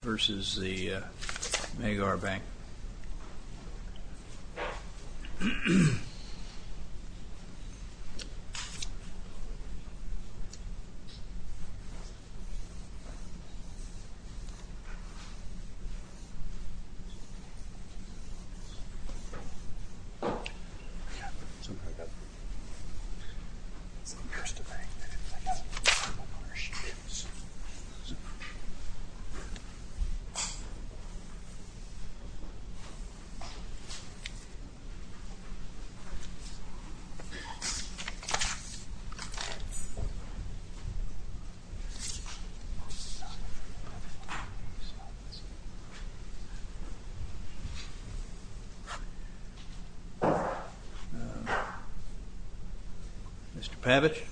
versus the Magyar Bank Mr. Pabitch.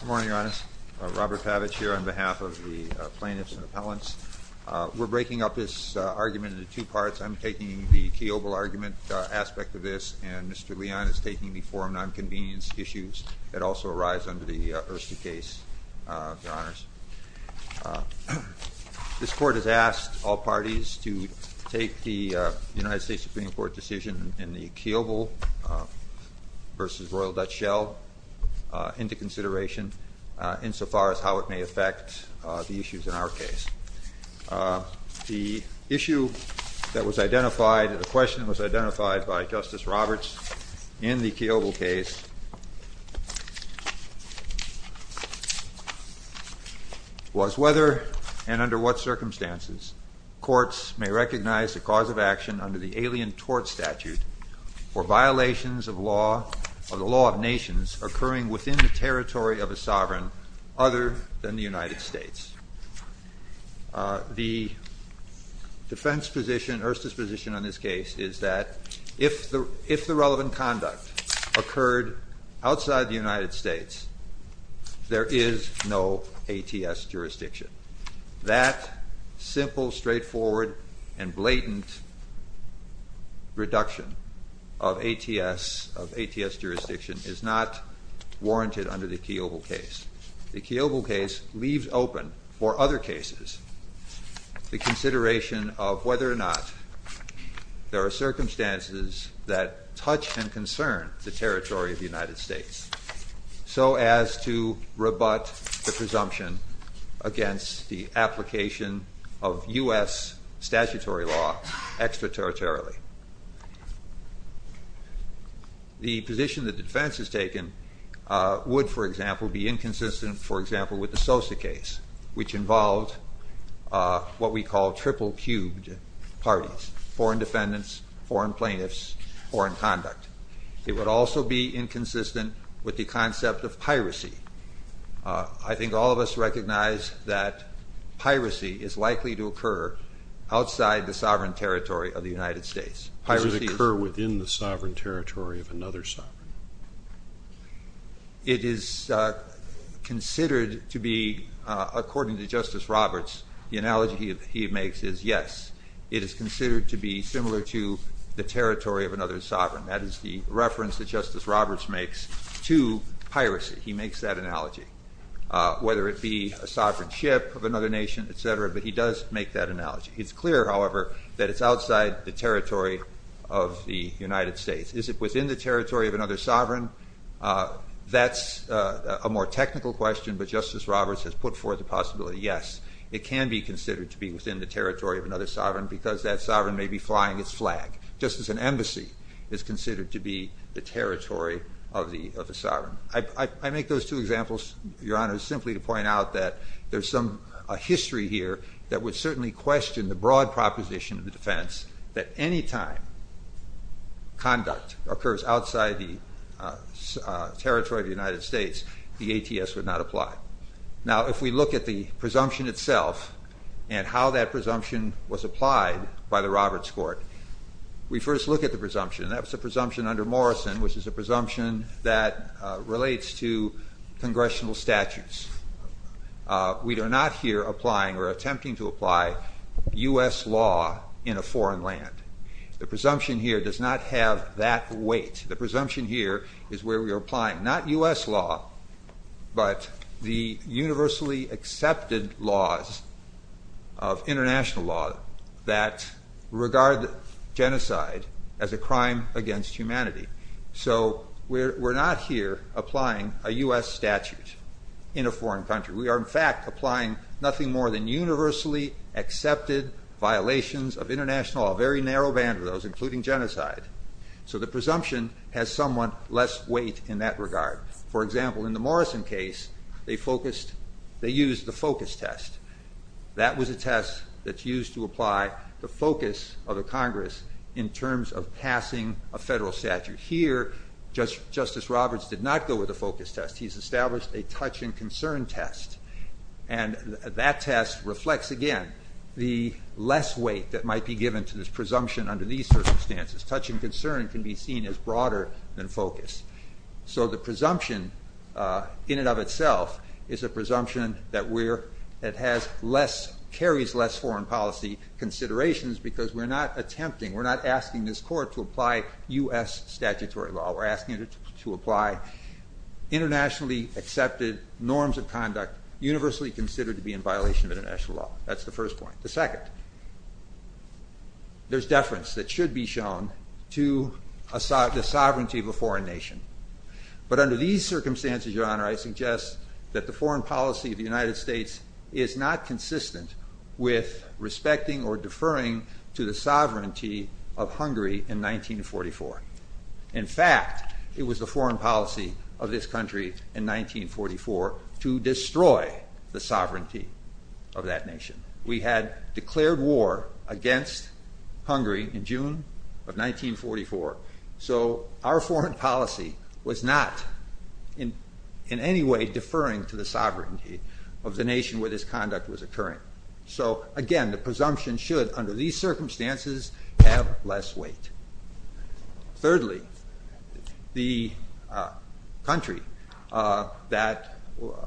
Good morning, Your Honors. Robert Pabitch here on behalf of the plaintiffs and appellants. We're breaking up this argument into two parts. I'm taking the Keoghl argument aspect of this, and Mr. Leon is taking the forum nonconvenience issues that also arise under the Erste case, Your Honors. This court has asked all parties to take the United States Supreme Court decision in the Keoghl versus Royal Dutch Shell into consideration, insofar as how it may affect the issues in our case. The issue that was identified, the question that was identified by Justice Roberts in the Keoghl case was whether and under what circumstances courts may recognize the cause of action under the alien tort statute for violations of the law of nations occurring within the territory of a sovereign other than the United States. The defense position, Erste's position on this case is that if the relevant conduct occurred outside the United States, there is no ATS jurisdiction. That simple, straightforward, and blatant reduction of ATS jurisdiction is not warranted under the Keoghl case. The Keoghl case leaves open for other cases the consideration of whether or not there are circumstances that touch and concern the territory of the United States, so as to rebut the presumption against the application of U.S. statutory law extraterritorially. The position that the defense has taken would, for example, be inconsistent, for example, with the Sosa case, which involved what we call triple-cubed parties, foreign defendants, foreign plaintiffs, foreign conduct. It would also be inconsistent with the concept of piracy. I think all of us recognize that piracy is likely to occur outside the sovereign territory of the United States. Does it occur within the sovereign territory of another sovereign? It is considered to be, according to Justice Roberts, the analogy he makes is yes. It is considered to be similar to the territory of another sovereign. That is the reference that Justice Roberts makes to piracy. He makes that analogy. Whether it be a sovereign ship of another nation, et cetera, but he does make that analogy. It's clear, however, that it's outside the territory of the United States. Is it within the territory of another sovereign? That's a more technical question, but Justice Roberts has put forth the possibility, yes, it can be considered to be within the territory of another sovereign, because that sovereign may be flying its flag, just as an embassy is considered to be the territory of the sovereign. I make those two examples, Your Honor, simply to point out that there's a history here that would certainly question the broad proposition of the defense that any time conduct occurs outside the territory of the United States, the ATS would not apply. Now if we look at the presumption itself and how that presumption was applied by the Roberts Court, we first look at the presumption, and that was the presumption under Morrison, which is a presumption that relates to congressional statutes. We are not here applying or attempting to apply U.S. law in a foreign land. The presumption here does not have that weight. The presumption here is where we are applying not U.S. law, but the universally accepted laws of international law that regard genocide as a crime against humanity. So we're not here applying a U.S. statute in a foreign country. We are, in fact, applying nothing more than universally accepted violations of international law, a very narrow band of those, including genocide. So the presumption has somewhat less weight in that regard. For example, in the Morrison case, they used the focus test. That was a test that's used to apply the focus of the Congress in terms of passing a federal statute. Here, Justice Roberts did not go with a focus test. He's established a touch and concern test, and that test reflects, again, the less weight that might be given to this presumption under these circumstances. Touch and concern can be seen as broader than focus. So the presumption in and of itself is a presumption that carries less foreign policy considerations because we're not attempting, we're not asking this court to apply U.S. statutory law. We're asking it to apply internationally accepted norms of conduct universally considered to be in violation of international law. That's the first point. The second, there's deference that should be shown to the sovereignty of a foreign nation. But under these circumstances, Your Honor, I suggest that the foreign policy of the United States was not referring to the sovereignty of Hungary in 1944. In fact, it was the foreign policy of this country in 1944 to destroy the sovereignty of that nation. We had declared war against Hungary in June of 1944. So our foreign policy was not in any way deferring to the sovereignty of the nation where this conduct was occurring. So again, the presumption should, under these circumstances, have less weight. Thirdly, the country that,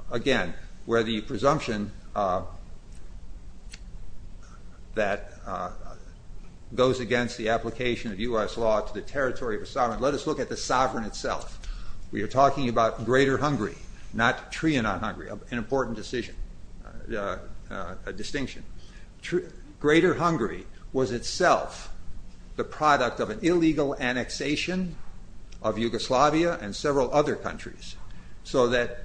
again, where the presumption that goes against the application of U.S. law to the territory of a sovereign, let us look at the sovereign itself. We are talking about Greater Hungary, not Trianon Hungary, an important distinction. Greater Hungary was itself the product of an illegal annexation of Yugoslavia and several other countries. So that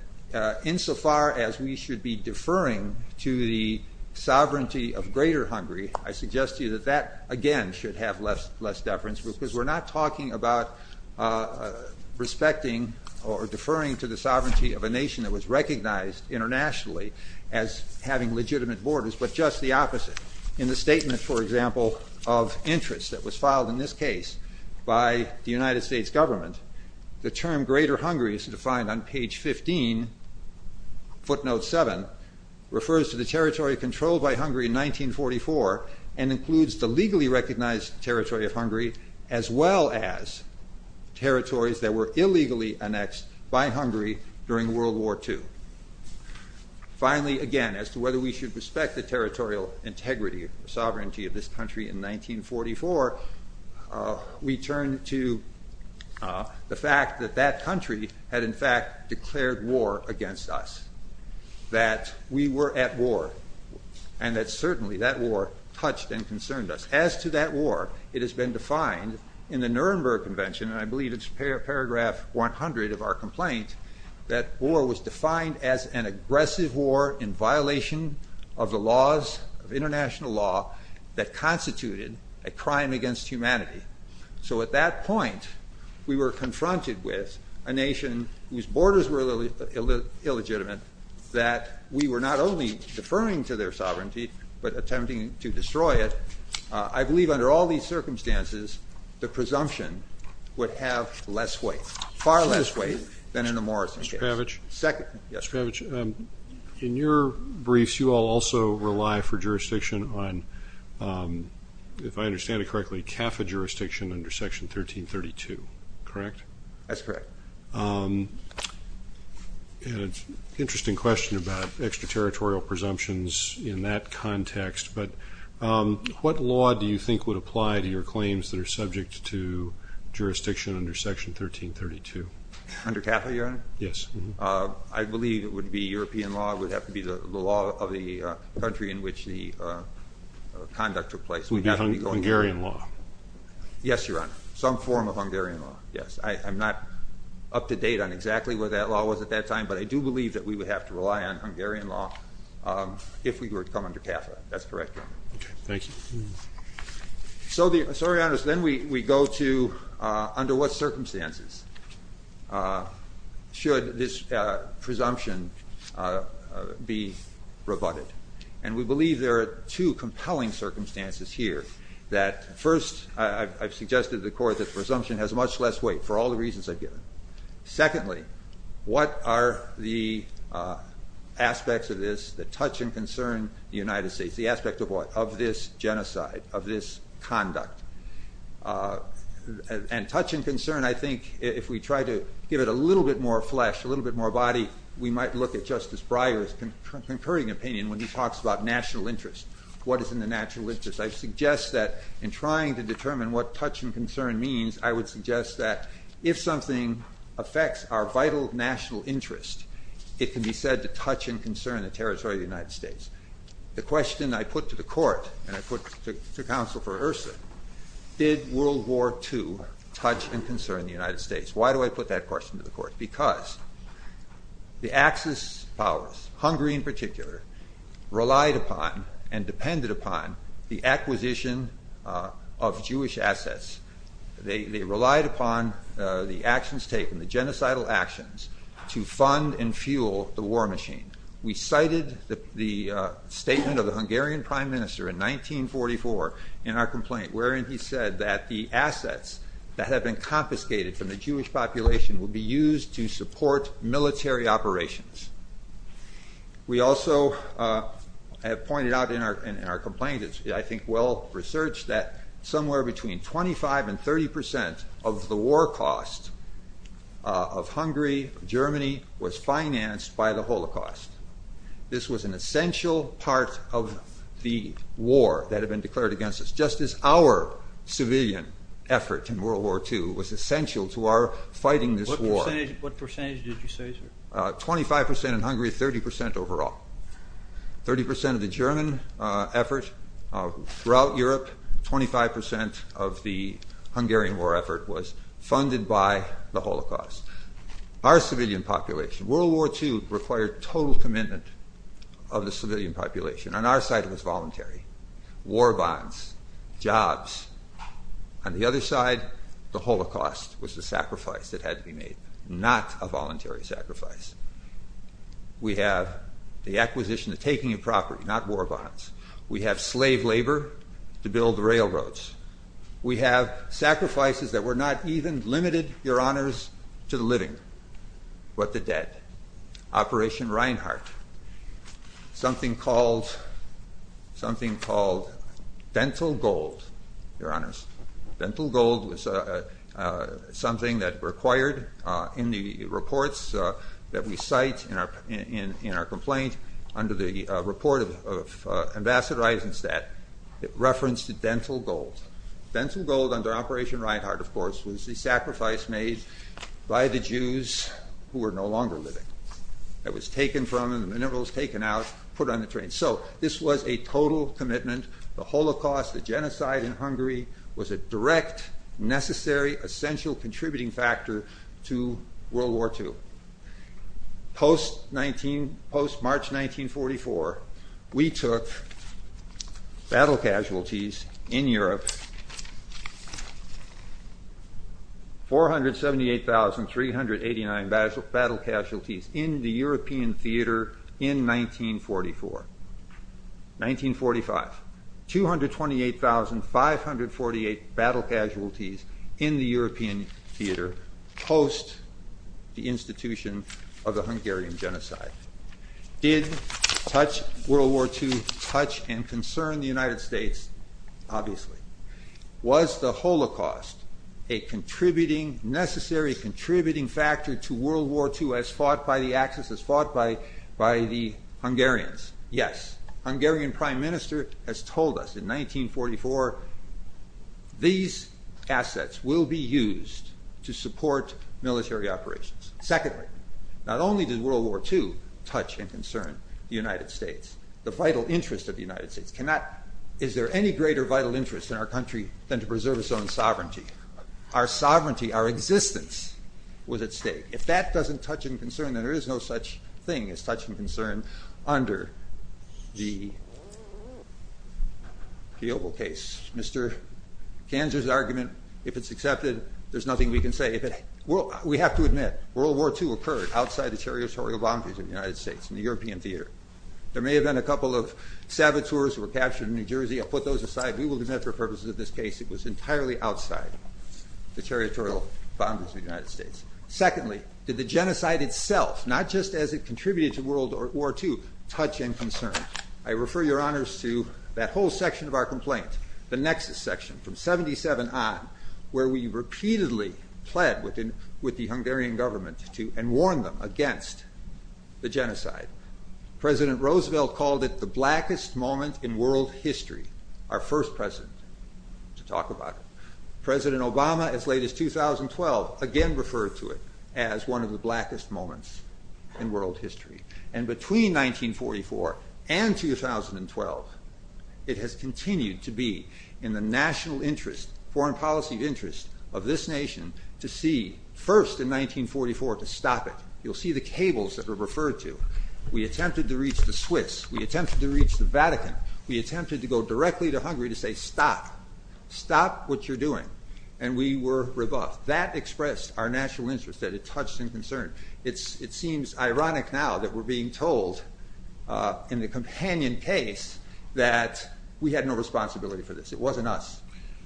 insofar as we should be deferring to the sovereignty of Greater Hungary, I suggest to you that that, again, should have less deference, because we're not talking about respecting or deferring to the sovereignty of a nation that was recognized internationally as having legitimate borders, but just the opposite. In the statement, for example, of interests that was filed in this case by the United States government, the term Greater Hungary is defined on page 15, footnote 7, refers to the territory controlled by Hungary in 1944 and includes the legally recognized territory of Hungary, as well as territories that were illegally annexed by Hungary during World War II. Finally, again, as to whether we should respect the territorial integrity, sovereignty of this country in 1944, we turn to the fact that that country had, in fact, declared war against us, that we were at war, and that certainly that war touched and concerned us. As to that war, it has been defined in the Nuremberg Convention, and I believe it's paragraph 100 of our complaint, that war was defined as an aggressive war in violation of the laws of international law that constituted a crime against humanity. So at that point, we were confronted with a nation whose borders were illegitimate, that we were not only deferring to their sovereignty, but attempting to destroy it. I believe under all these circumstances, the presumption would have less weight, far less weight than in the Morrison case. Mr. Pavich, in your briefs, you all also rely for jurisdiction on, if I understand it correctly, CAFA jurisdiction under Section 1332, correct? That's correct. An interesting question about extraterritorial presumptions in that context, but what law do you think would apply to your claims that are subject to jurisdiction under Section 1332? Under CAFA, Your Honor? Yes. I believe it would be European law, it would have to be the law of the country in which the conduct took place. It would be Hungarian law? Yes, Your Honor, some form of Hungarian law, yes. I'm not up to date on exactly what that law was at that time, but I do believe that we would have to rely on Hungarian law if we were to come under CAFA, that's correct, Your Honor. Okay, thank you. So, Your Honor, then we go to under what circumstances should this presumption be rebutted? And we believe there are two compelling circumstances here, that first, I've suggested to the Court that the presumption has much less weight, for all the reasons I've given. Secondly, what are the aspects of this that touch and concern the United States? The aspect of what? Of this genocide, of this conduct. And touch and concern, I think, if we try to give it a little bit more flesh, a little bit more body, we might look at Justice Breyer's concurring opinion when he talks about national interest. What is in the national interest? I suggest that in trying to determine what touch and concern means, I would suggest that if something affects our vital national interest, it can be said to touch and concern the territory of the United States. The question I put to the Court, and I put to Counsel for IHRSA, did World War II touch and concern the United States? Why do I put that question to the Court? Because the Axis powers, Hungary in particular, relied upon and depended upon the acquisition of Jewish assets. They relied upon the actions taken, the genocidal actions, to fund and fuel the war machine. We cited the statement of the Hungarian Prime Minister in 1944 in our complaint, wherein he said that the assets that had been confiscated from the Jewish population would be used to support military operations. We also have pointed out in our complaint, I think well-researched, that somewhere between 25 and 30 percent of the war cost of Hungary, Germany, was financed by the Holocaust. This was an essential part of the war that had been declared against us. Just as our civilian effort in World War II was essential to our fighting this war. What percentage did you say, sir? 25 percent in Hungary, 30 percent overall. Thirty percent of the German effort throughout Europe, 25 percent of the Hungarian war effort was funded by the Holocaust. Our civilian population, World War II required total commitment of the civilian population. On our side, it was voluntary, war bonds, jobs. On the other side, the Holocaust was the sacrifice that had to be made, not a voluntary sacrifice. We have the acquisition, the taking of property, not war bonds. We have slave labor to build the railroads. We have sacrifices that were not even limited, your honors, to the living, but the dead. Operation Reinhardt, something called Dental Gold, your honors. Dental Gold was something that required in the reports that we cite in our complaint under the report of Ambassador Eisenstadt, it referenced Dental Gold. Dental Gold under Operation Reinhardt, of course, was the sacrifice made by the Jews who were no longer living. It was taken from them, the minerals taken out, put on the train. So this was a total commitment. The Holocaust, the genocide in Hungary was a direct, necessary, essential contributing factor to World War II. Post-March 1944, we took battle casualties in Europe, 478,389 battle casualties in the European theater in 1944, 1945, 228,548 battle casualties in the European theater post the institution of the Hungarian genocide. Did World War II touch and concern the United States? Obviously. Was the Holocaust a contributing, necessary contributing factor to World War II as fought by the Axis, as fought by the Hungarians? Yes. Hungarian Prime Minister has told us in 1944, these assets will be used to support military operations. Secondly, not only did World War II touch and concern the United States, the vital interest of the United States cannot, is there any greater vital interest in our country than to preserve its own sovereignty? Our sovereignty, our existence was at stake. If that doesn't touch and concern, then there is no such thing as touch and concern under the case, Mr. Kanzer's argument, if it's accepted, there's nothing we can say. We have to admit, World War II occurred outside the territorial boundaries of the United States in the European theater. There may have been a couple of saboteurs who were captured in New Jersey, I'll put those aside. We will admit for purposes of this case, it was entirely outside the territorial boundaries of the United States. Secondly, did the genocide itself, not just as it contributed to World War II, touch and concern? I refer your honors to that whole section of our complaint, the nexus section from 77 on, where we repeatedly pled with the Hungarian government and warned them against the genocide. President Roosevelt called it the blackest moment in world history, our first president to talk about it. President Obama as late as 2012 again referred to it as one of the blackest moments in world history. 1944 and 2012, it has continued to be in the national interest, foreign policy interest of this nation to see, first in 1944, to stop it. You'll see the cables that are referred to. We attempted to reach the Swiss, we attempted to reach the Vatican, we attempted to go directly to Hungary to say stop, stop what you're doing, and we were rebuffed. That expressed our national interest that it touched and concerned. It seems ironic now that we're being told in the companion case that we had no responsibility for this. It wasn't us.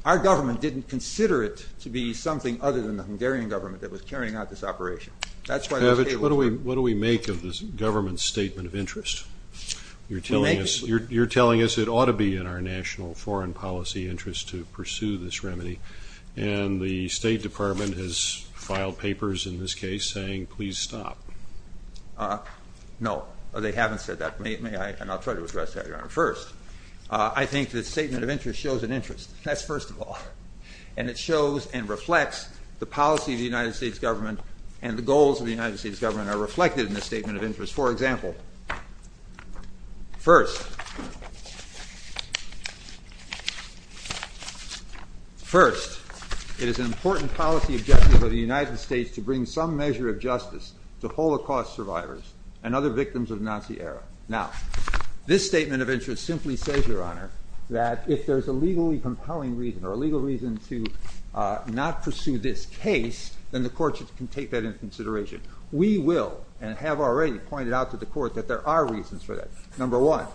Our government didn't consider it to be something other than the Hungarian government that was carrying out this operation. That's why those cables were- Pavic, what do we make of this government's statement of interest? You're telling us it ought to be in our national foreign policy interest to pursue this remedy, and the State Department has filed papers in this case saying, please stop. No, they haven't said that, and I'll try to address that, Your Honor. First, I think the statement of interest shows an interest. That's first of all, and it shows and reflects the policy of the United States government and the goals of the United States government are reflected in the statement of interest. For example, first, it is an important policy objective of the United States to bring some measure of justice to Holocaust survivors and other victims of Nazi era. Now, this statement of interest simply says, Your Honor, that if there's a legally compelling reason or a legal reason to not pursue this case, then the courts can take that into consideration. We will, and have already pointed out to the court that there are reasons for that. Number one,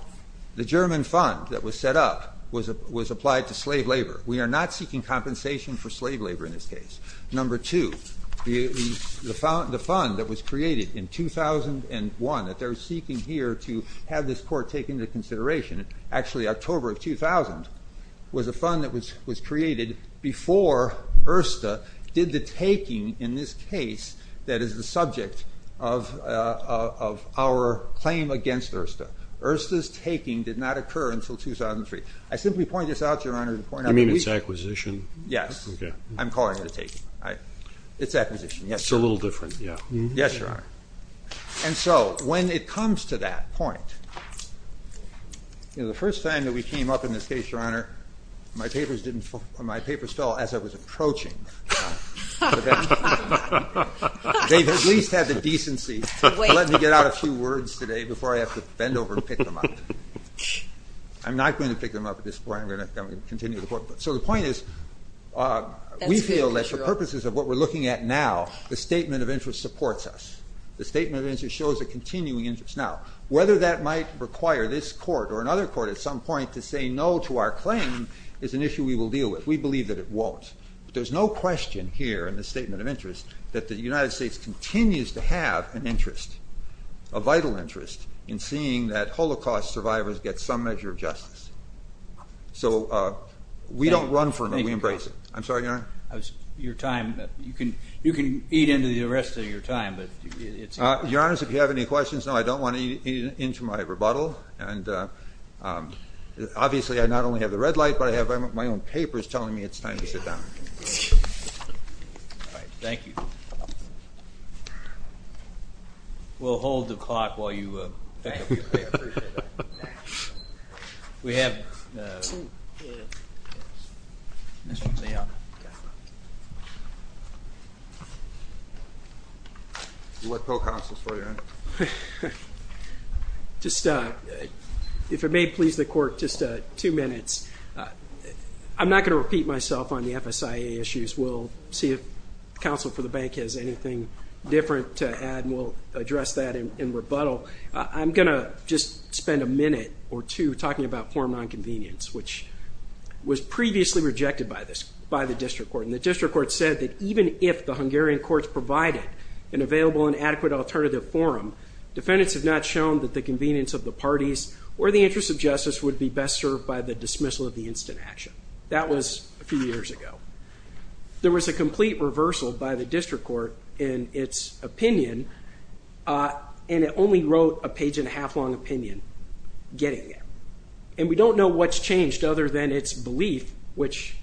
the German fund that was set up was applied to slave labor. We are not seeking compensation for slave labor in this case. Number two, the fund that was created in 2001 that they're seeking here to have this court take into consideration, actually October of 2000, was a fund that was created before Ersta did the taking in this case that is the subject of our claim against Ersta. Ersta's taking did not occur until 2003. I simply point this out, Your Honor, to point out that we- You mean it's acquisition? Yes. Okay. I'm calling it a taking. It's acquisition, yes. It's a little different, yeah. Yes, Your Honor. And so when it comes to that point, the first time that we came up in this case, Your Honor, my papers fell as I was approaching the bench. They've at least had the decency to let me get out a few words today before I have to bend over and pick them up. I'm not going to pick them up at this point. I'm going to continue the court. So the point is we feel that for purposes of what we're looking at now, the statement of interest supports us. The statement of interest shows a continuing interest. Now, whether that might require this court or another court at some point to say no to our claim is an issue we will deal with. We believe that it won't. There's no question here in the statement of interest that the United States continues to have an interest, a vital interest, in seeing that Holocaust survivors get some measure of justice. So we don't run from it. We embrace it. I'm sorry, Your Honor? Your time, you can eat into the rest of your time, but it's- Your Honor, if you have any questions, no, I don't want to eat into my rebuttal. And obviously, I not only have the red light, but I have my own papers telling me it's time to sit down. All right, thank you. We'll hold the clock while you pick up your papers. I appreciate that. We have Mr. Leon. What pro-counsel is for you, Your Honor? Just, if it may please the court, just two minutes. I'm not going to repeat myself on the FSIA issues. We'll see if counsel for the bank has anything different to add, and we'll address that in rebuttal. I'm going to just spend a minute or two talking about form non-convenience, which was previously rejected by the district court. And the district court said that even if the Hungarian courts provided an available and adequate alternative forum, defendants have not shown that the convenience of the parties or the interest of justice would be best served by the dismissal of the instant action. That was a few years ago. There was a complete reversal by the district court in its opinion, and it only wrote a page and a half long opinion getting it. And we don't know what's changed other than its belief, which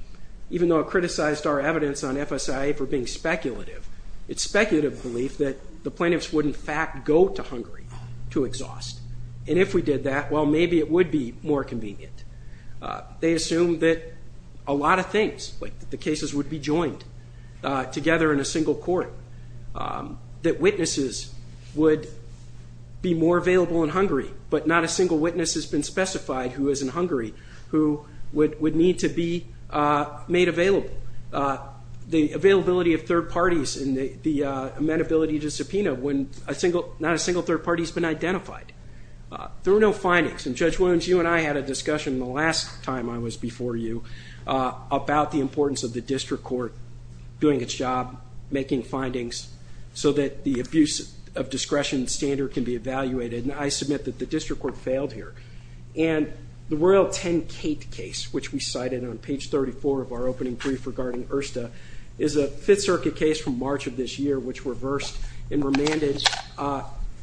even though it criticized our evidence on FSIA for being speculative, it's speculative belief that the plaintiffs would in fact go to Hungary to exhaust. And if we did that, well, maybe it would be more convenient. They assume that a lot of things, like the cases would be joined together in a single court, that witnesses would be more available in Hungary, but not a single witness has been specified who is in Hungary who would need to be made available. The availability of third parties and the amenability to subpoena when not a single third party has been identified. There were no findings, and Judge Williams, you and I had a discussion the last time I was before you about the importance of the district court doing its job, making findings so that the abuse of discretion standard can be evaluated, and I submit that the district court failed here. And the Royal 10 Kate case, which we cited on page 34 of our opening brief regarding Ersta, is a Fifth Circuit case from March of this year, which reversed and remanded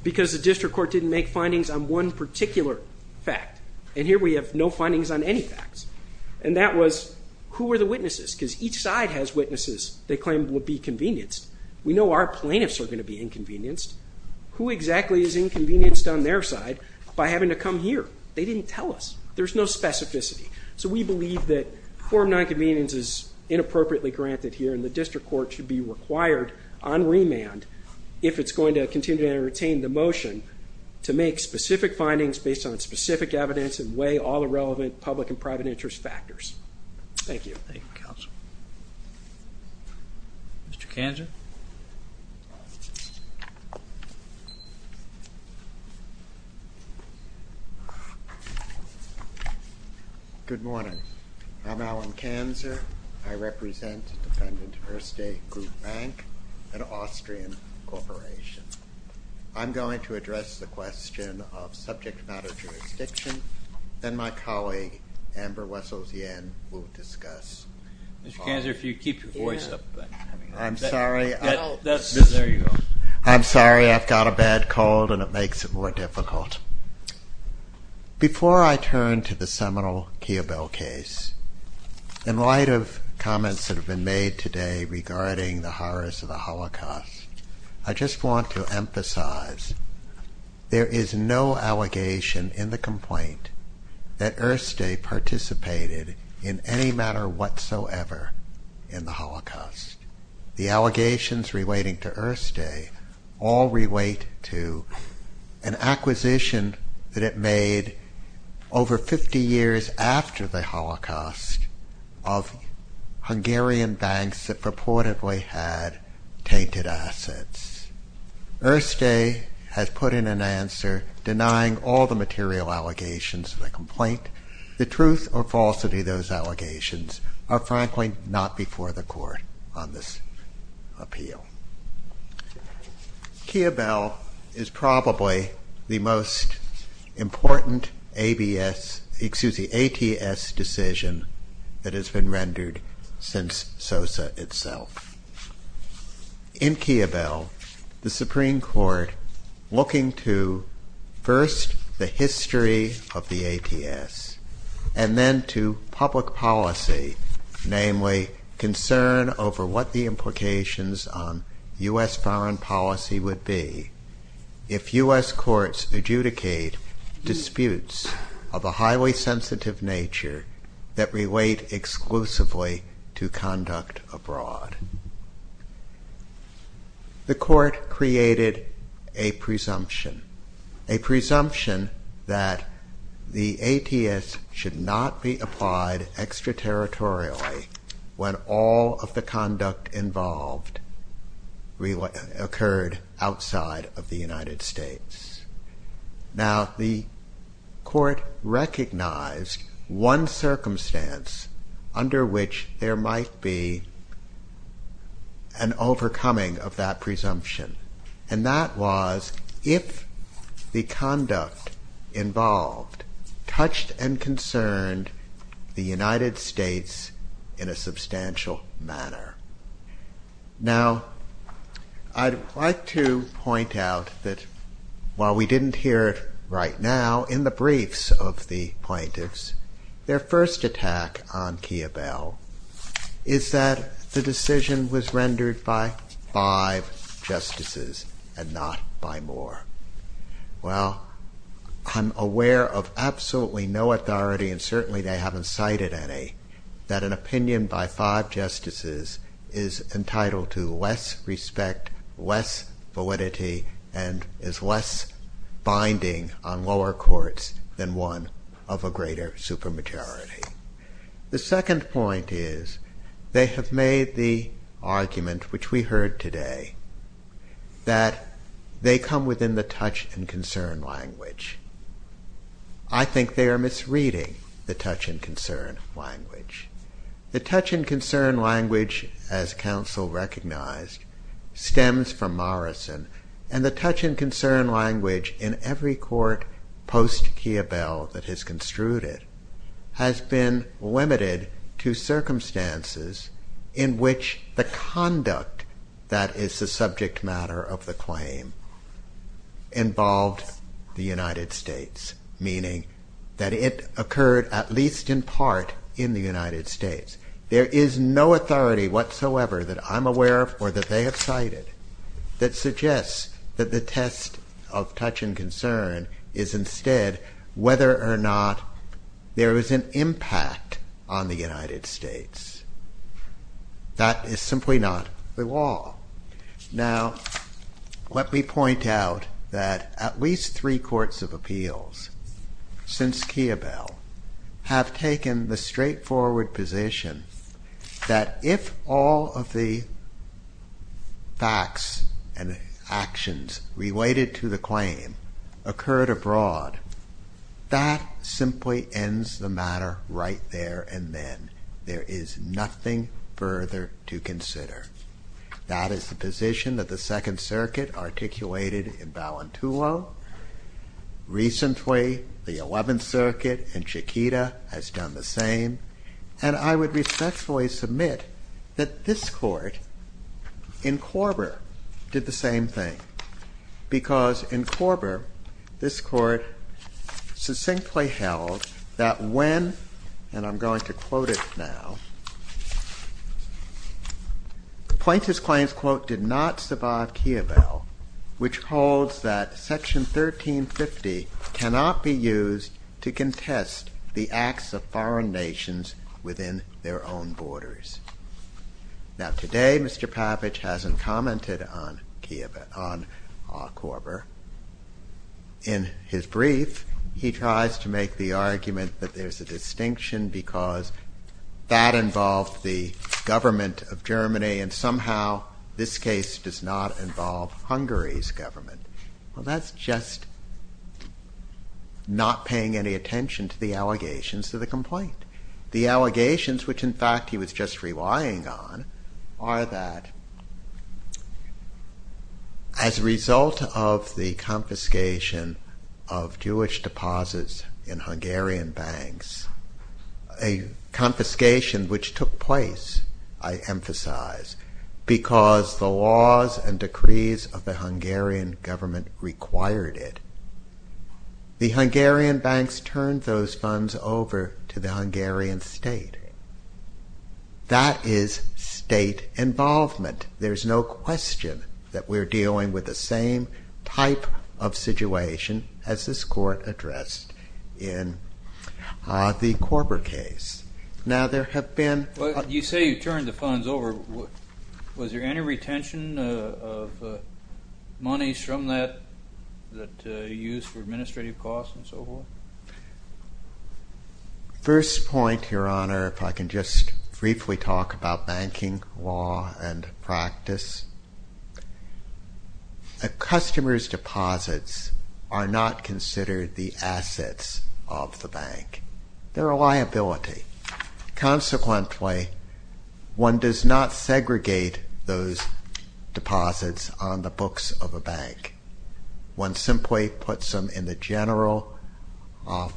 because the district court didn't make findings on one particular fact. And here we have no findings on any facts. And that was, who were the witnesses? Because each side has witnesses they claim would be convenienced. We know our plaintiffs are going to be inconvenienced. Who exactly is inconvenienced on their side by having to come here? They didn't tell us. There's no specificity. So we believe that form non-convenience is inappropriately granted here, and the district court should be required on remand, if it's going to continue to entertain the motion to make specific findings based on specific evidence and weigh all the relevant public and private interest factors. Thank you. Thank you, counsel. Mr. Kanzer. Good morning. I'm Alan Kanzer. I represent defendant Ersta Group Bank, an Austrian corporation. I'm going to address the question of subject matter jurisdiction, then my colleague, Amber Wessels-Yen, will discuss. Mr. Kanzer, if you keep your voice up. I'm sorry. There you go. I'm sorry. I've got a bad cold and it makes it more difficult. Before I turn to the seminal Kia Bell case, in light of comments that have been made today regarding the horrors of the Holocaust, I just want to emphasize there is no allegation in the complaint that Ersta participated in any matter whatsoever in the Holocaust. The allegations relating to Ersta all relate to an acquisition that it made over 50 years after the Holocaust of Hungarian banks that purportedly had tainted assets. Ersta has put in an answer denying all the material allegations of the complaint. The truth or falsity of those allegations are frankly not before the court on this appeal. Kia Bell is probably the most important ABS, excuse me, ATS decision that has been rendered since SOSA itself. In Kia Bell, the Supreme Court looking to first the history of the ATS and then to public policy, namely concern over what the implications on U.S. foreign policy would be if U.S. courts adjudicate disputes of a highly sensitive nature that relate exclusively to conduct abroad. The court created a presumption, a presumption that the ATS should not be applied extraterritorially when all of the conduct involved occurred outside of the United States. Now the court recognized one circumstance under which there might be an overcoming of that presumption and that was if the conduct involved touched and concerned the United States in a substantial manner. Now I'd like to point out that while we didn't hear it right now in the briefs of the plaintiffs, their first attack on Kia Bell is that the decision was rendered by five justices and not by more. Well, I'm aware of absolutely no authority and certainly they haven't cited any that an opinion by five justices is entitled to less respect, less validity and is less binding on lower courts than one of a greater supermajority. The second point is they have made the argument which we heard today that they come within the touch and concern language. I think they are misreading the touch and concern language. The touch and concern language as counsel recognized stems from Morrison and the touch and concern language in every court post-Kia Bell that has construed it has been limited to circumstances in which the conduct that is the subject matter of the claim involved the United States, meaning that it occurred at least in part in the United States. There is no authority whatsoever that I'm aware of or that they have cited that suggests that the test of touch and concern is instead whether or not there is an impact on the United States. That is simply not the law. Now, let me point out that at least three courts of appeals since Kia Bell have taken the straightforward position that if all of the facts and actions related to the claim occurred abroad, that simply ends the matter right there and then. There is nothing further to consider. That is the position that the Second Circuit articulated in Ballantulo. Recently, the Eleventh Circuit in Chiquita has done the same. And I would respectfully submit that this court in Korber did the same thing because in Korber, this court succinctly held that when, and I'm going to quote it now, plaintiff's claims, quote, did not survive Kia Bell, which holds that Section 1350 cannot be used to contest the acts of foreign nations. Within their own borders. Now, today, Mr. Pavich hasn't commented on Kia Bell, on Korber. In his brief, he tries to make the argument that there's a distinction because that involved the government of Germany and somehow this case does not involve Hungary's government. Well, that's just not paying any attention to the allegations to the complaint. The allegations, which in fact he was just relying on, are that as a result of the confiscation of Jewish deposits in Hungarian banks, a confiscation which took place, I emphasize, because the laws and decrees of the Hungarian government, required it, the Hungarian banks turned those funds over to the Hungarian state. That is state involvement. There's no question that we're dealing with the same type of situation as this court addressed in the Korber case. You say you turned the funds over. Was there any retention of monies from that, that you used for administrative costs and so forth? Consequently, one does not segregate those deposits on the books of a bank. One simply puts them in the general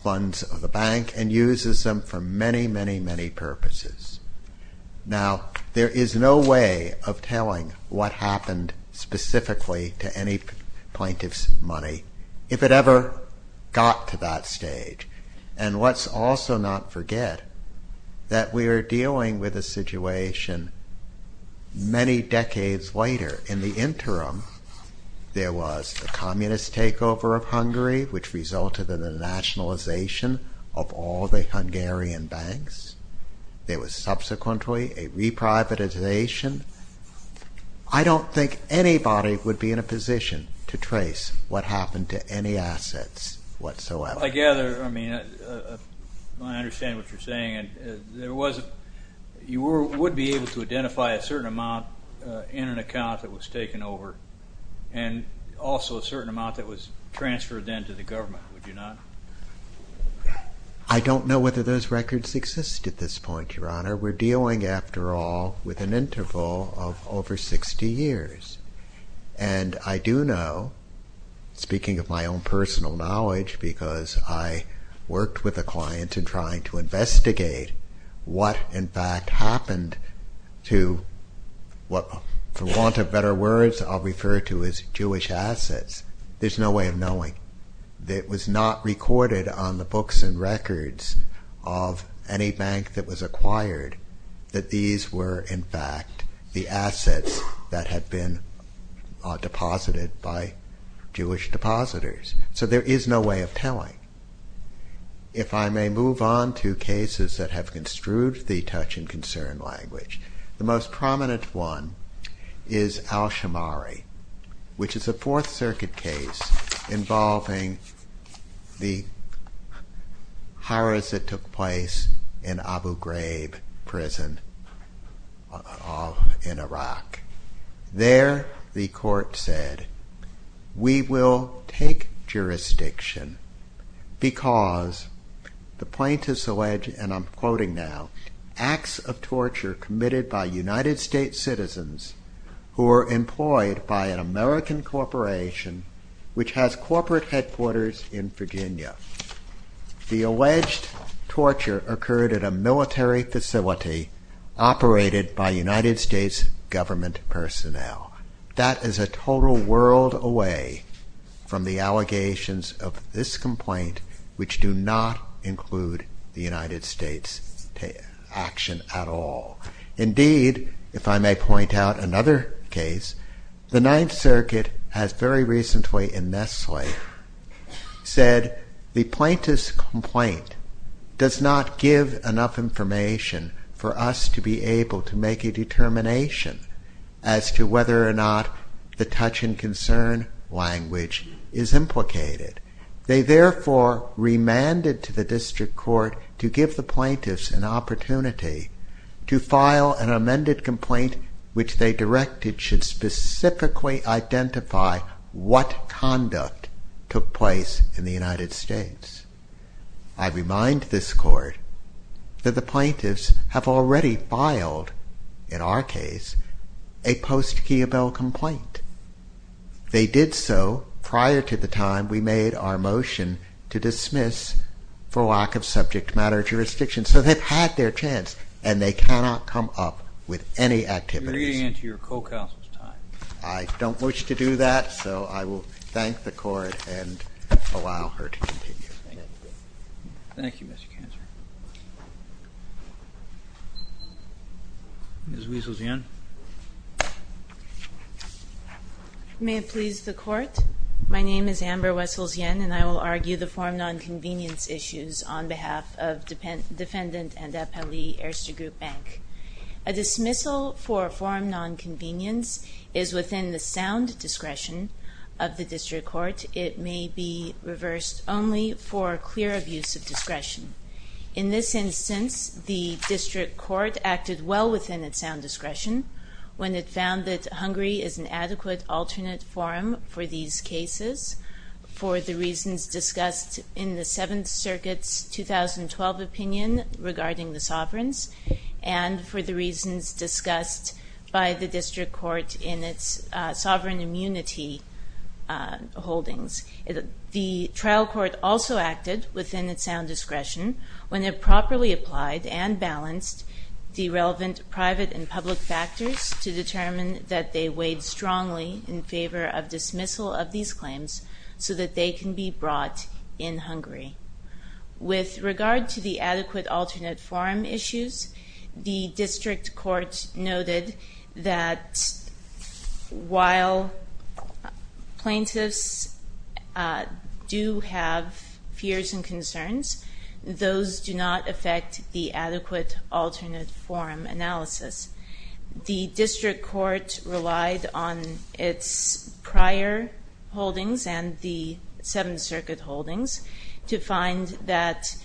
funds of the bank and uses them for many, many, many purposes. Now, there is no way of telling what happened specifically to any plaintiff's money, if it ever got to that stage. And let's also not forget that we are dealing with a situation many decades later. In the interim, there was a communist takeover of Hungary, which resulted in the nationalization of all the Hungarian banks. There was subsequently a reprivatization. I don't think anybody would be in a position to trace what happened to any assets whatsoever. I understand what you're saying. You would be able to identify a certain amount in an account that was taken over, and also a certain amount that was transferred then to the government, would you not? I don't know whether those records exist at this point, Your Honor. We're dealing, after all, with an interval of over 60 years. And I do know, speaking of my own personal knowledge, because I worked with a client in trying to investigate what, in fact, happened to what, for want of better words, I'll refer to as Jewish assets. There's no way of knowing. It was not recorded on the books and records of any bank that was acquired that these were, in fact, the assets that had been deposited by Jewish depositors. So there is no way of telling. If I may move on to cases that have construed the touch and concern language, the most prominent one is al-Shamari, which is a Fourth Circuit case involving the horrors that took place in Abu Ghraib prison in Iraq. There, the court said, we will take jurisdiction because the plaintiffs allege, and I'm quoting now, acts of torture committed by United States citizens who are employed by an American corporation which has corporate headquarters in Virginia. The alleged torture occurred at a military facility operated by United States government personnel. That is a total world away from the allegations of this complaint, which do not include the United States action at all. Indeed, if I may point out another case, the Ninth Circuit has very recently in Nestle said the plaintiff's complaint does not give enough information for us to be able to make a determination as to whether or not the touch and concern language is implicated. They therefore remanded to the district court to give the plaintiffs an opportunity to file an amended complaint which they directed should specifically identify what conduct took place in the United States. I remind this court that the plaintiffs have already filed, in our case, a post-Keyabel complaint. They did so prior to the time we made our motion to dismiss for lack of subject matter jurisdiction. So they've had their chance, and they cannot come up with any activities. I don't wish to do that, so I will thank the court and allow her to continue. Thank you, Mr. Kanzer. Ms. Wessels-Yen. May it please the court. My name is Amber Wessels-Yen, and I will argue the form nonconvenience issues on behalf of Defendant and Appellee Erster Group Bank. A dismissal for form nonconvenience is within the sound discretion of the district court. It may be reversed only for clear abuse of discretion. In this instance, the district court acted well within its sound discretion when it found that Hungary is an adequate alternate forum for these cases for the reasons discussed in the Seventh Circuit's 2012 opinion regarding the sovereigns and for the reasons discussed by the district court in its sovereign immunity holdings. The trial court also acted within its sound discretion when it properly applied and balanced the relevant private and public factors to determine that they weighed strongly in favor of dismissal of these claims so that they can be brought in Hungary. With regard to the adequate alternate forum issues, the district court noted that while plaintiffs do have fears and concerns, those do not affect the adequate alternate forum analysis. The district court relied on its prior holdings and the Seventh Circuit holdings to find that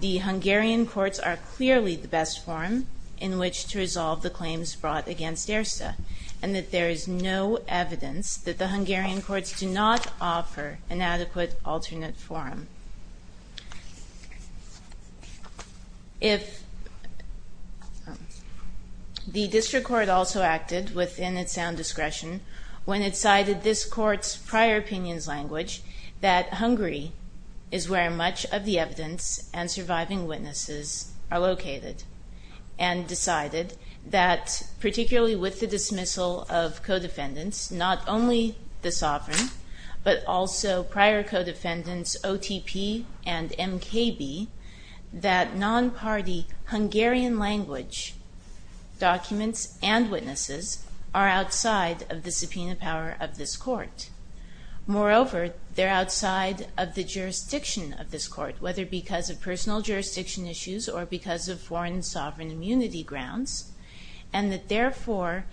the Hungarian courts are clearly the best forum in which to resolve the claims brought against Erster, and that there is no evidence that the Hungarian courts do not offer an adequate alternate forum. If the district court also acted within its sound discretion when it cited this court's prior opinions language, that Hungary is where much of the evidence and surviving witnesses are located, and decided that particularly with the dismissal of co-defendants, not only the sovereign but also prior co-defendants OTP and MKB, that non-party Hungarian language documents and witnesses are outside of the subpoena power of this court. Moreover, they're outside of the jurisdiction of this court, whether because of personal jurisdiction issues or because of foreign sovereign immunity grounds, and that therefore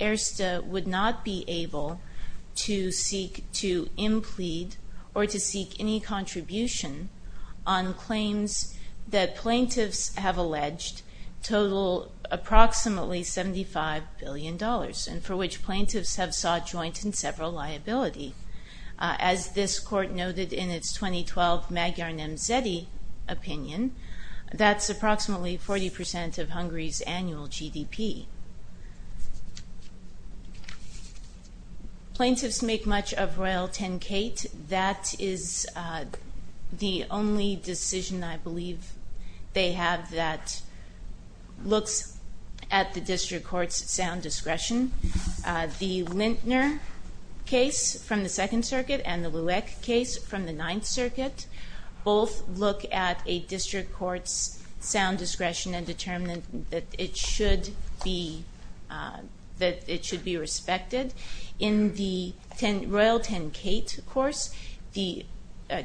Erster would not be able to seek to implead or to seek any contribution on claims that plaintiffs have alleged total approximately $75 billion, and for which plaintiffs have sought joint and several liability. As this court noted in its 2012 Magyar Nemzeti opinion, that's approximately 40% of Hungary's annual GDP. Plaintiffs make much of Royal Tenkate. That is the only decision I believe they have that looks at the district court's sound discretion. The Lintner case from the Second Circuit and the Lueck case from the Ninth Circuit both look at a district court's sound discretion and determine that it should be respected. In the Royal Tenkate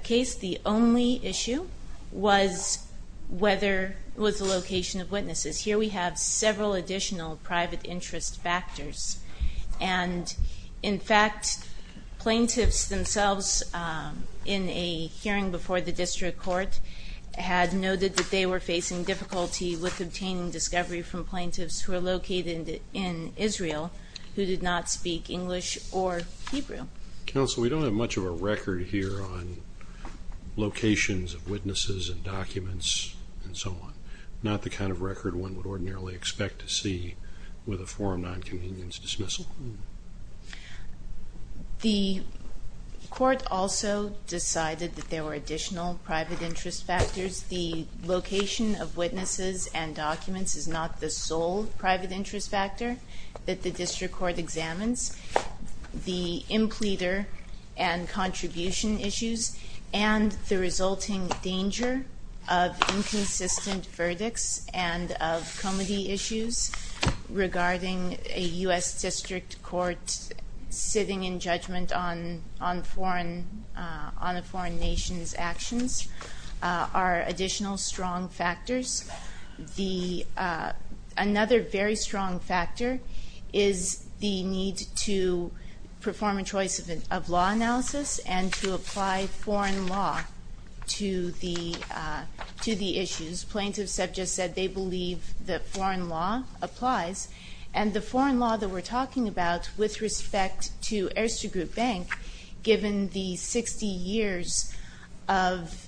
case, the only issue was the location of witnesses. Here we have several additional private interest factors. In fact, plaintiffs themselves in a hearing before the district court had noted that they were facing difficulty with obtaining discovery from plaintiffs who were located in Israel who did not speak English or Hebrew. Counsel, we don't have much of a record here on locations of witnesses and documents and so on. Not the kind of record one would ordinarily expect to see with a forum non-convenience dismissal. The court also decided that there were additional private interest factors. The location of witnesses and documents is not the sole private interest factor that the district court examines. The impleter and contribution issues and the resulting danger of inconsistent verdicts and of comity issues regarding a U.S. district court sitting in judgment on a foreign nation's actions are additional strong factors. Another very strong factor is the need to perform a choice of law analysis and to apply foreign law to the issues. Plaintiffs have just said they believe that foreign law applies. The foreign law that we're talking about with respect to Erzségroup Bank, given the 60 years of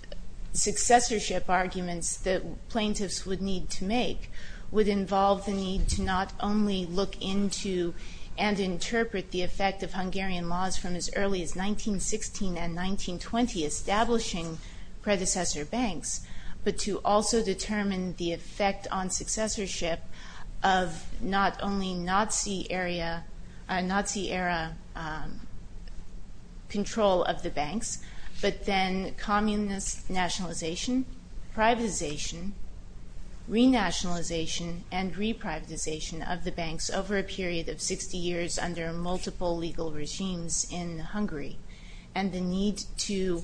successorship arguments that plaintiffs would need to make, would involve the need to not only look into and interpret the effect of Hungarian laws from as early as 1916 and 1920 establishing predecessor banks, but to also determine the effect on successorship of not only Nazi era control of the banks, but then communist nationalization, privatization, re-nationalization and re-privatization of the banks over a period of 60 years under multiple legal regimes in Hungary. And the need to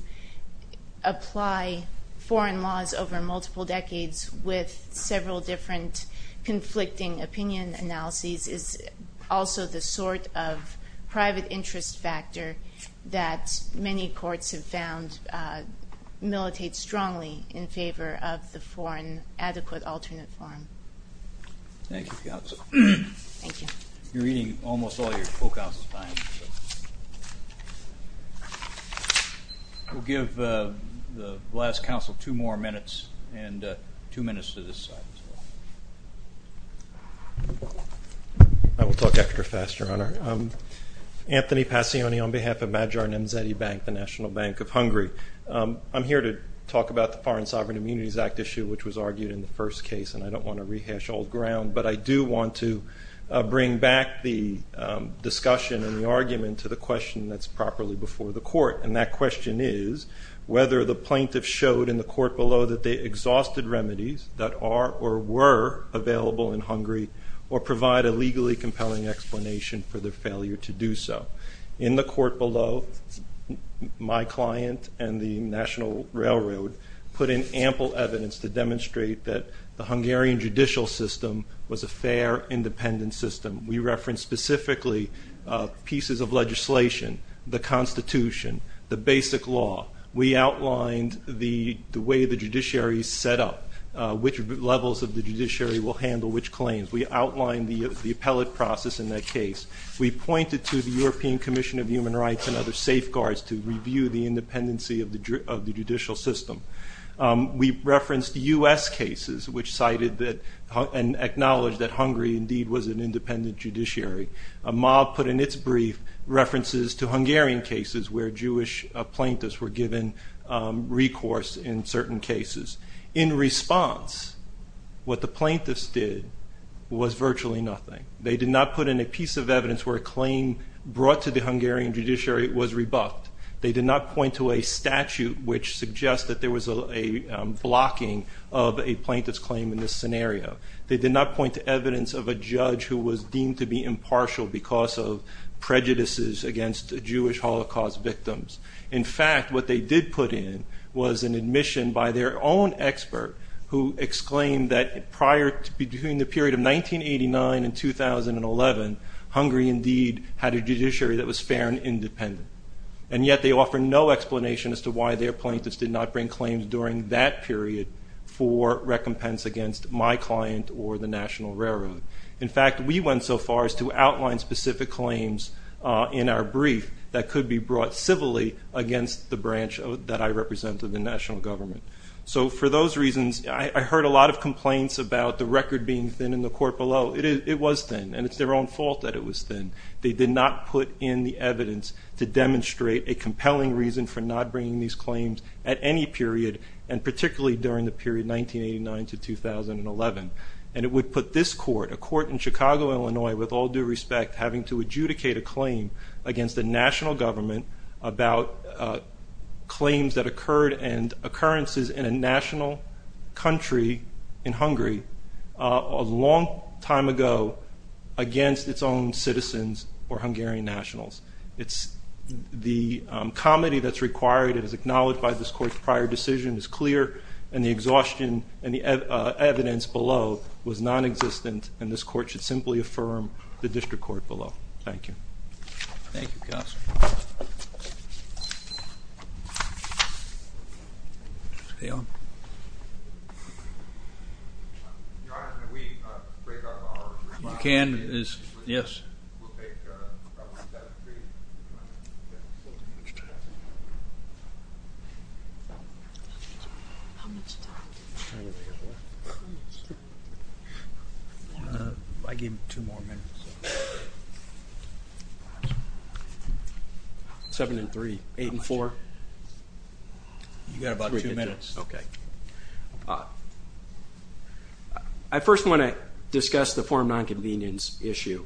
apply foreign laws over multiple decades with several different conflicting opinion analyses is also the sort of private interest factor that many courts have found militates strongly in favor of the foreign adequate alternate form. Thank you. You're eating almost all your Coke house's time. We'll give the last counsel two more minutes and two minutes to this side as well. I will talk extra fast, Your Honor. Anthony Passioni on behalf of Magyar Nemzeti Bank, the National Bank of Hungary. I'm here to talk about the Foreign Sovereign Immunities Act issue, which was argued in the first case, and I don't want to rehash old ground, but I do want to bring back the discussion and the argument to the question that's properly before the court. And that question is whether the plaintiff showed in the court below that they exhausted remedies that are or were available in Hungary or provide a legally compelling explanation for their failure to do so. In the court below, my client and the National Railroad put in ample evidence to demonstrate that the Hungarian judicial system was a fair, independent system. We referenced specifically pieces of legislation, the Constitution, the basic law. We outlined the way the judiciary is set up, which levels of the judiciary will handle which claims. We outlined the appellate process in that case. We pointed to the European Commission of Human Rights and other safeguards to review the independency of the judicial system. We referenced U.S. cases, which cited and acknowledged that Hungary indeed was an independent judiciary. MAB put in its brief references to Hungarian cases where Jewish plaintiffs were given recourse in certain cases. In response, what the plaintiffs did was virtually nothing. They did not put in a piece of evidence where a claim brought to the Hungarian judiciary was rebuffed. They did not point to a statute which suggests that there was a blocking of a plaintiff's claim in this scenario. They did not point to evidence of a judge who was deemed to be impartial because of prejudices against Jewish Holocaust victims. In fact, what they did put in was an admission by their own expert who exclaimed that prior to the period of 1989 and 2011, Hungary indeed had a judiciary that was fair and independent. And yet they offer no explanation as to why their plaintiffs did not bring claims during that period for recompense against my client or the National Railroad. In fact, we went so far as to outline specific claims in our brief that could be brought civilly against the branch that I represent in the national government. So for those reasons, I heard a lot of complaints about the record being thin in the court below. It was thin, and it's their own fault that it was thin. They did not put in the evidence to demonstrate a compelling reason for not bringing these claims at any period, and particularly during the period 1989 to 2011. And it would put this court, a court in Chicago, Illinois, with all due respect, having to adjudicate a claim against the national government about claims that occurred and occurrences in a national country in Hungary a long time ago against its own citizens. Or Hungarian nationals. It's the comedy that's required and is acknowledged by this court's prior decision is clear, and the exhaustion and the evidence below was non-existent, and this court should simply affirm the district court below. Thank you. Thank you. Yes. You can. Yes. I gave two more minutes. Seven and three. Eight and four. You've got about two minutes. Okay. I first want to discuss the form nonconvenience issue.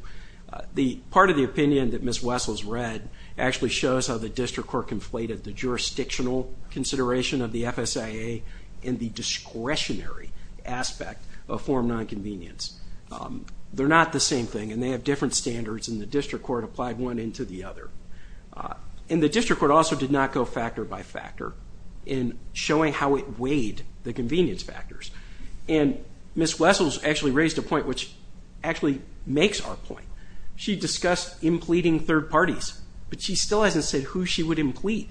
Part of the opinion that Ms. Wessels read actually shows how the district court conflated the jurisdictional consideration of the FSIA and the discretionary aspect of form nonconvenience. They're not the same thing, and they have different standards, and the district court applied one into the other. And the district court also did not go factor by factor in showing how it weighed the convenience factors. And Ms. Wessels actually raised a point which actually makes our point. She discussed impleeding third parties, but she still hasn't said who she would impleed.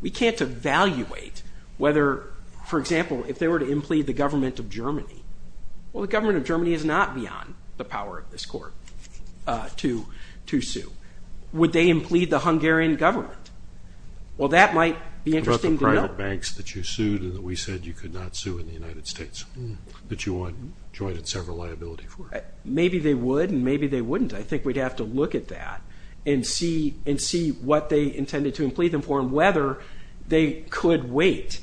We can't evaluate whether, for example, if they were to impleed the government of Germany. Well, the government of Germany is not beyond the power of this court to sue. Would they impleed the Hungarian government? Well, that might be interesting to know. What about the private banks that you sued and that we said you could not sue in the United States, that you wanted joint and several liability for? Maybe they would, and maybe they wouldn't. I think we'd have to look at that and see what they intended to impleed them for and whether they could wait,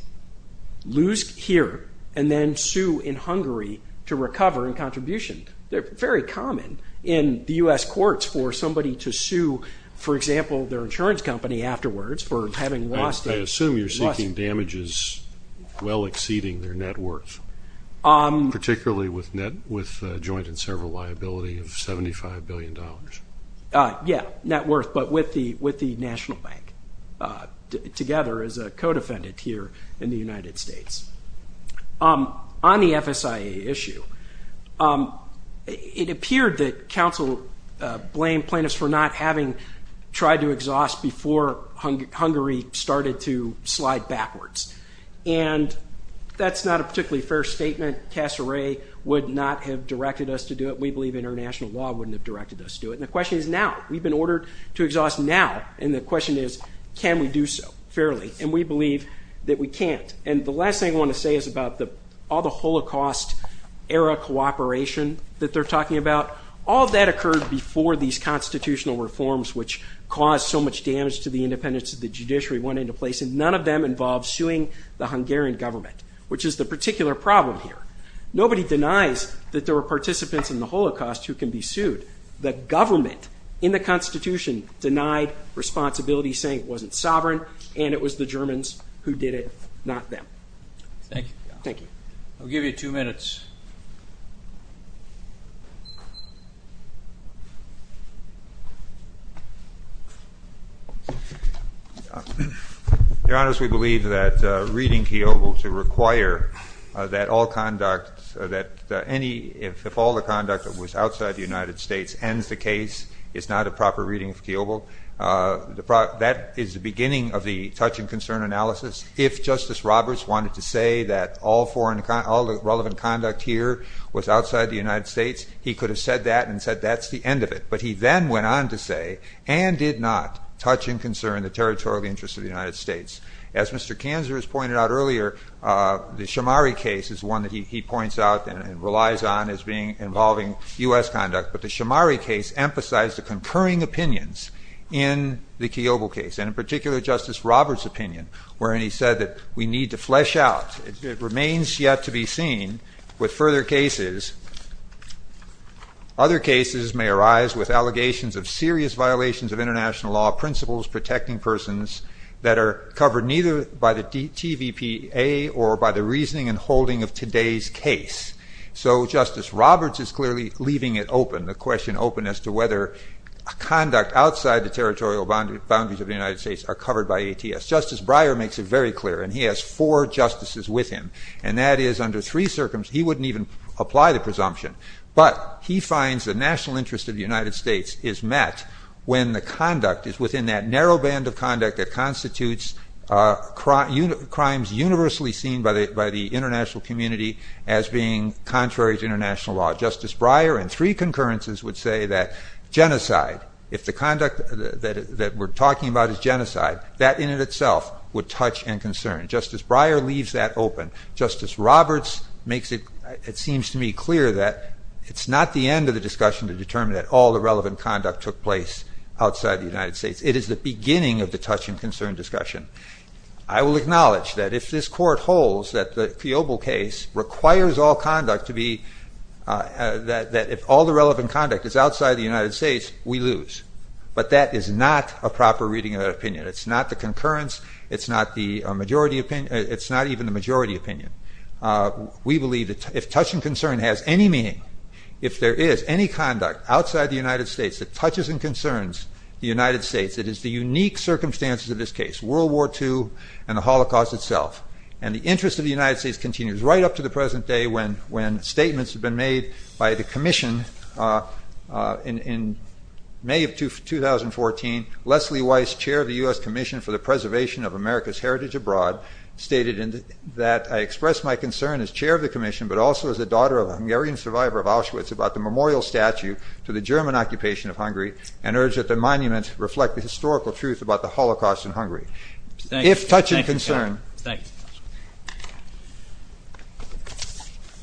lose here, and then sue in Hungary to recover in contribution. They're very common in the U.S. courts for somebody to sue, for example, their insurance company afterwards for having lost it. I assume you're seeking damages well exceeding their net worth, particularly with joint and several liability of $75 billion. Yeah, net worth, but with the National Bank together as a co-defendant here in the United States. On the FSIA issue, it appeared that counsel blamed plaintiffs for not having tried to exhaust before Hungary started to slide backwards, and that's not a particularly fair statement. Casseray would not have directed us to do it. We believe international law wouldn't have directed us to do it, and the question is now. We've been ordered to exhaust now, and the question is can we do so fairly, and we believe that we can't. And the last thing I want to say is about all the Holocaust-era cooperation that they're talking about. All that occurred before these constitutional reforms, which caused so much damage to the independence of the judiciary, went into place, and none of them involved suing the Hungarian government, which is the particular problem here. Nobody denies that there were participants in the Holocaust who can be sued. The government in the Constitution denied responsibility, saying it wasn't sovereign, and it was the Germans who did it, not them. Thank you. Thank you. I'll give you two minutes. Your Honor, we believe that reading Kiobel to require that all conduct, that any, if all the conduct that was outside the United States ends the case is not a proper reading of Kiobel. That is the beginning of the touch and concern analysis. If Justice Roberts wanted to say that all the relevant conduct here was outside the United States, he could have said that and said that's the end of it. But he then went on to say, and did not, touch and concern the territorial interests of the United States. As Mr. Kanzler has pointed out earlier, the Shomari case is one that he points out and relies on as involving U.S. conduct, but the Shomari case emphasized the concurring opinions in the Kiobel case, and in particular Justice Roberts' opinion, wherein he said that we need to flesh out. It remains yet to be seen with further cases. Other cases may arise with allegations of serious violations of international law principles protecting persons that are covered neither by the TVPA or by the reasoning and holding of today's case. So Justice Roberts is clearly leaving it open, the question open as to whether conduct outside the territorial boundaries of the United States are covered by ATS. Justice Breyer makes it very clear, and he has four justices with him, and that is under three circumstances, he wouldn't even apply the presumption, but he finds the national interest of the United States is met when the conduct is within that narrow band of conduct that constitutes crimes universally seen by the international community as being contrary to international law. Justice Breyer, in three concurrences, would say that genocide, if the conduct that we're talking about is genocide, that in and of itself would touch and concern. Justice Breyer leaves that open. Justice Roberts makes it, it seems to me, clear that it's not the end of the discussion to determine that all the relevant conduct took place outside the United States. It is the beginning of the touch and concern discussion. I will acknowledge that if this Court holds that the Fiobol case requires all conduct to be, that if all the relevant conduct is outside the United States, we lose. But that is not a proper reading of that opinion. It's not the concurrence, it's not even the majority opinion. We believe that if touch and concern has any meaning, if there is any conduct outside the United States that touches and concerns the United States, it is the unique circumstances of this case, World War II and the Holocaust itself. And the interest of the United States continues right up to the present day when statements have been made by the Commission. In May of 2014, Leslie Weiss, Chair of the U.S. Commission for the Preservation of America's Heritage Abroad, stated that I express my concern as Chair of the Commission, but also as a daughter of a Hungarian survivor of Auschwitz, about the memorial statue to the German occupation of Hungary and urge that the monument reflect the historical truth about the Holocaust in Hungary. If touch and concern. Thank you.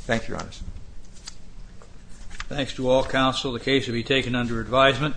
Thank you, Your Honor. Thanks to all counsel. The case will be taken under advisement.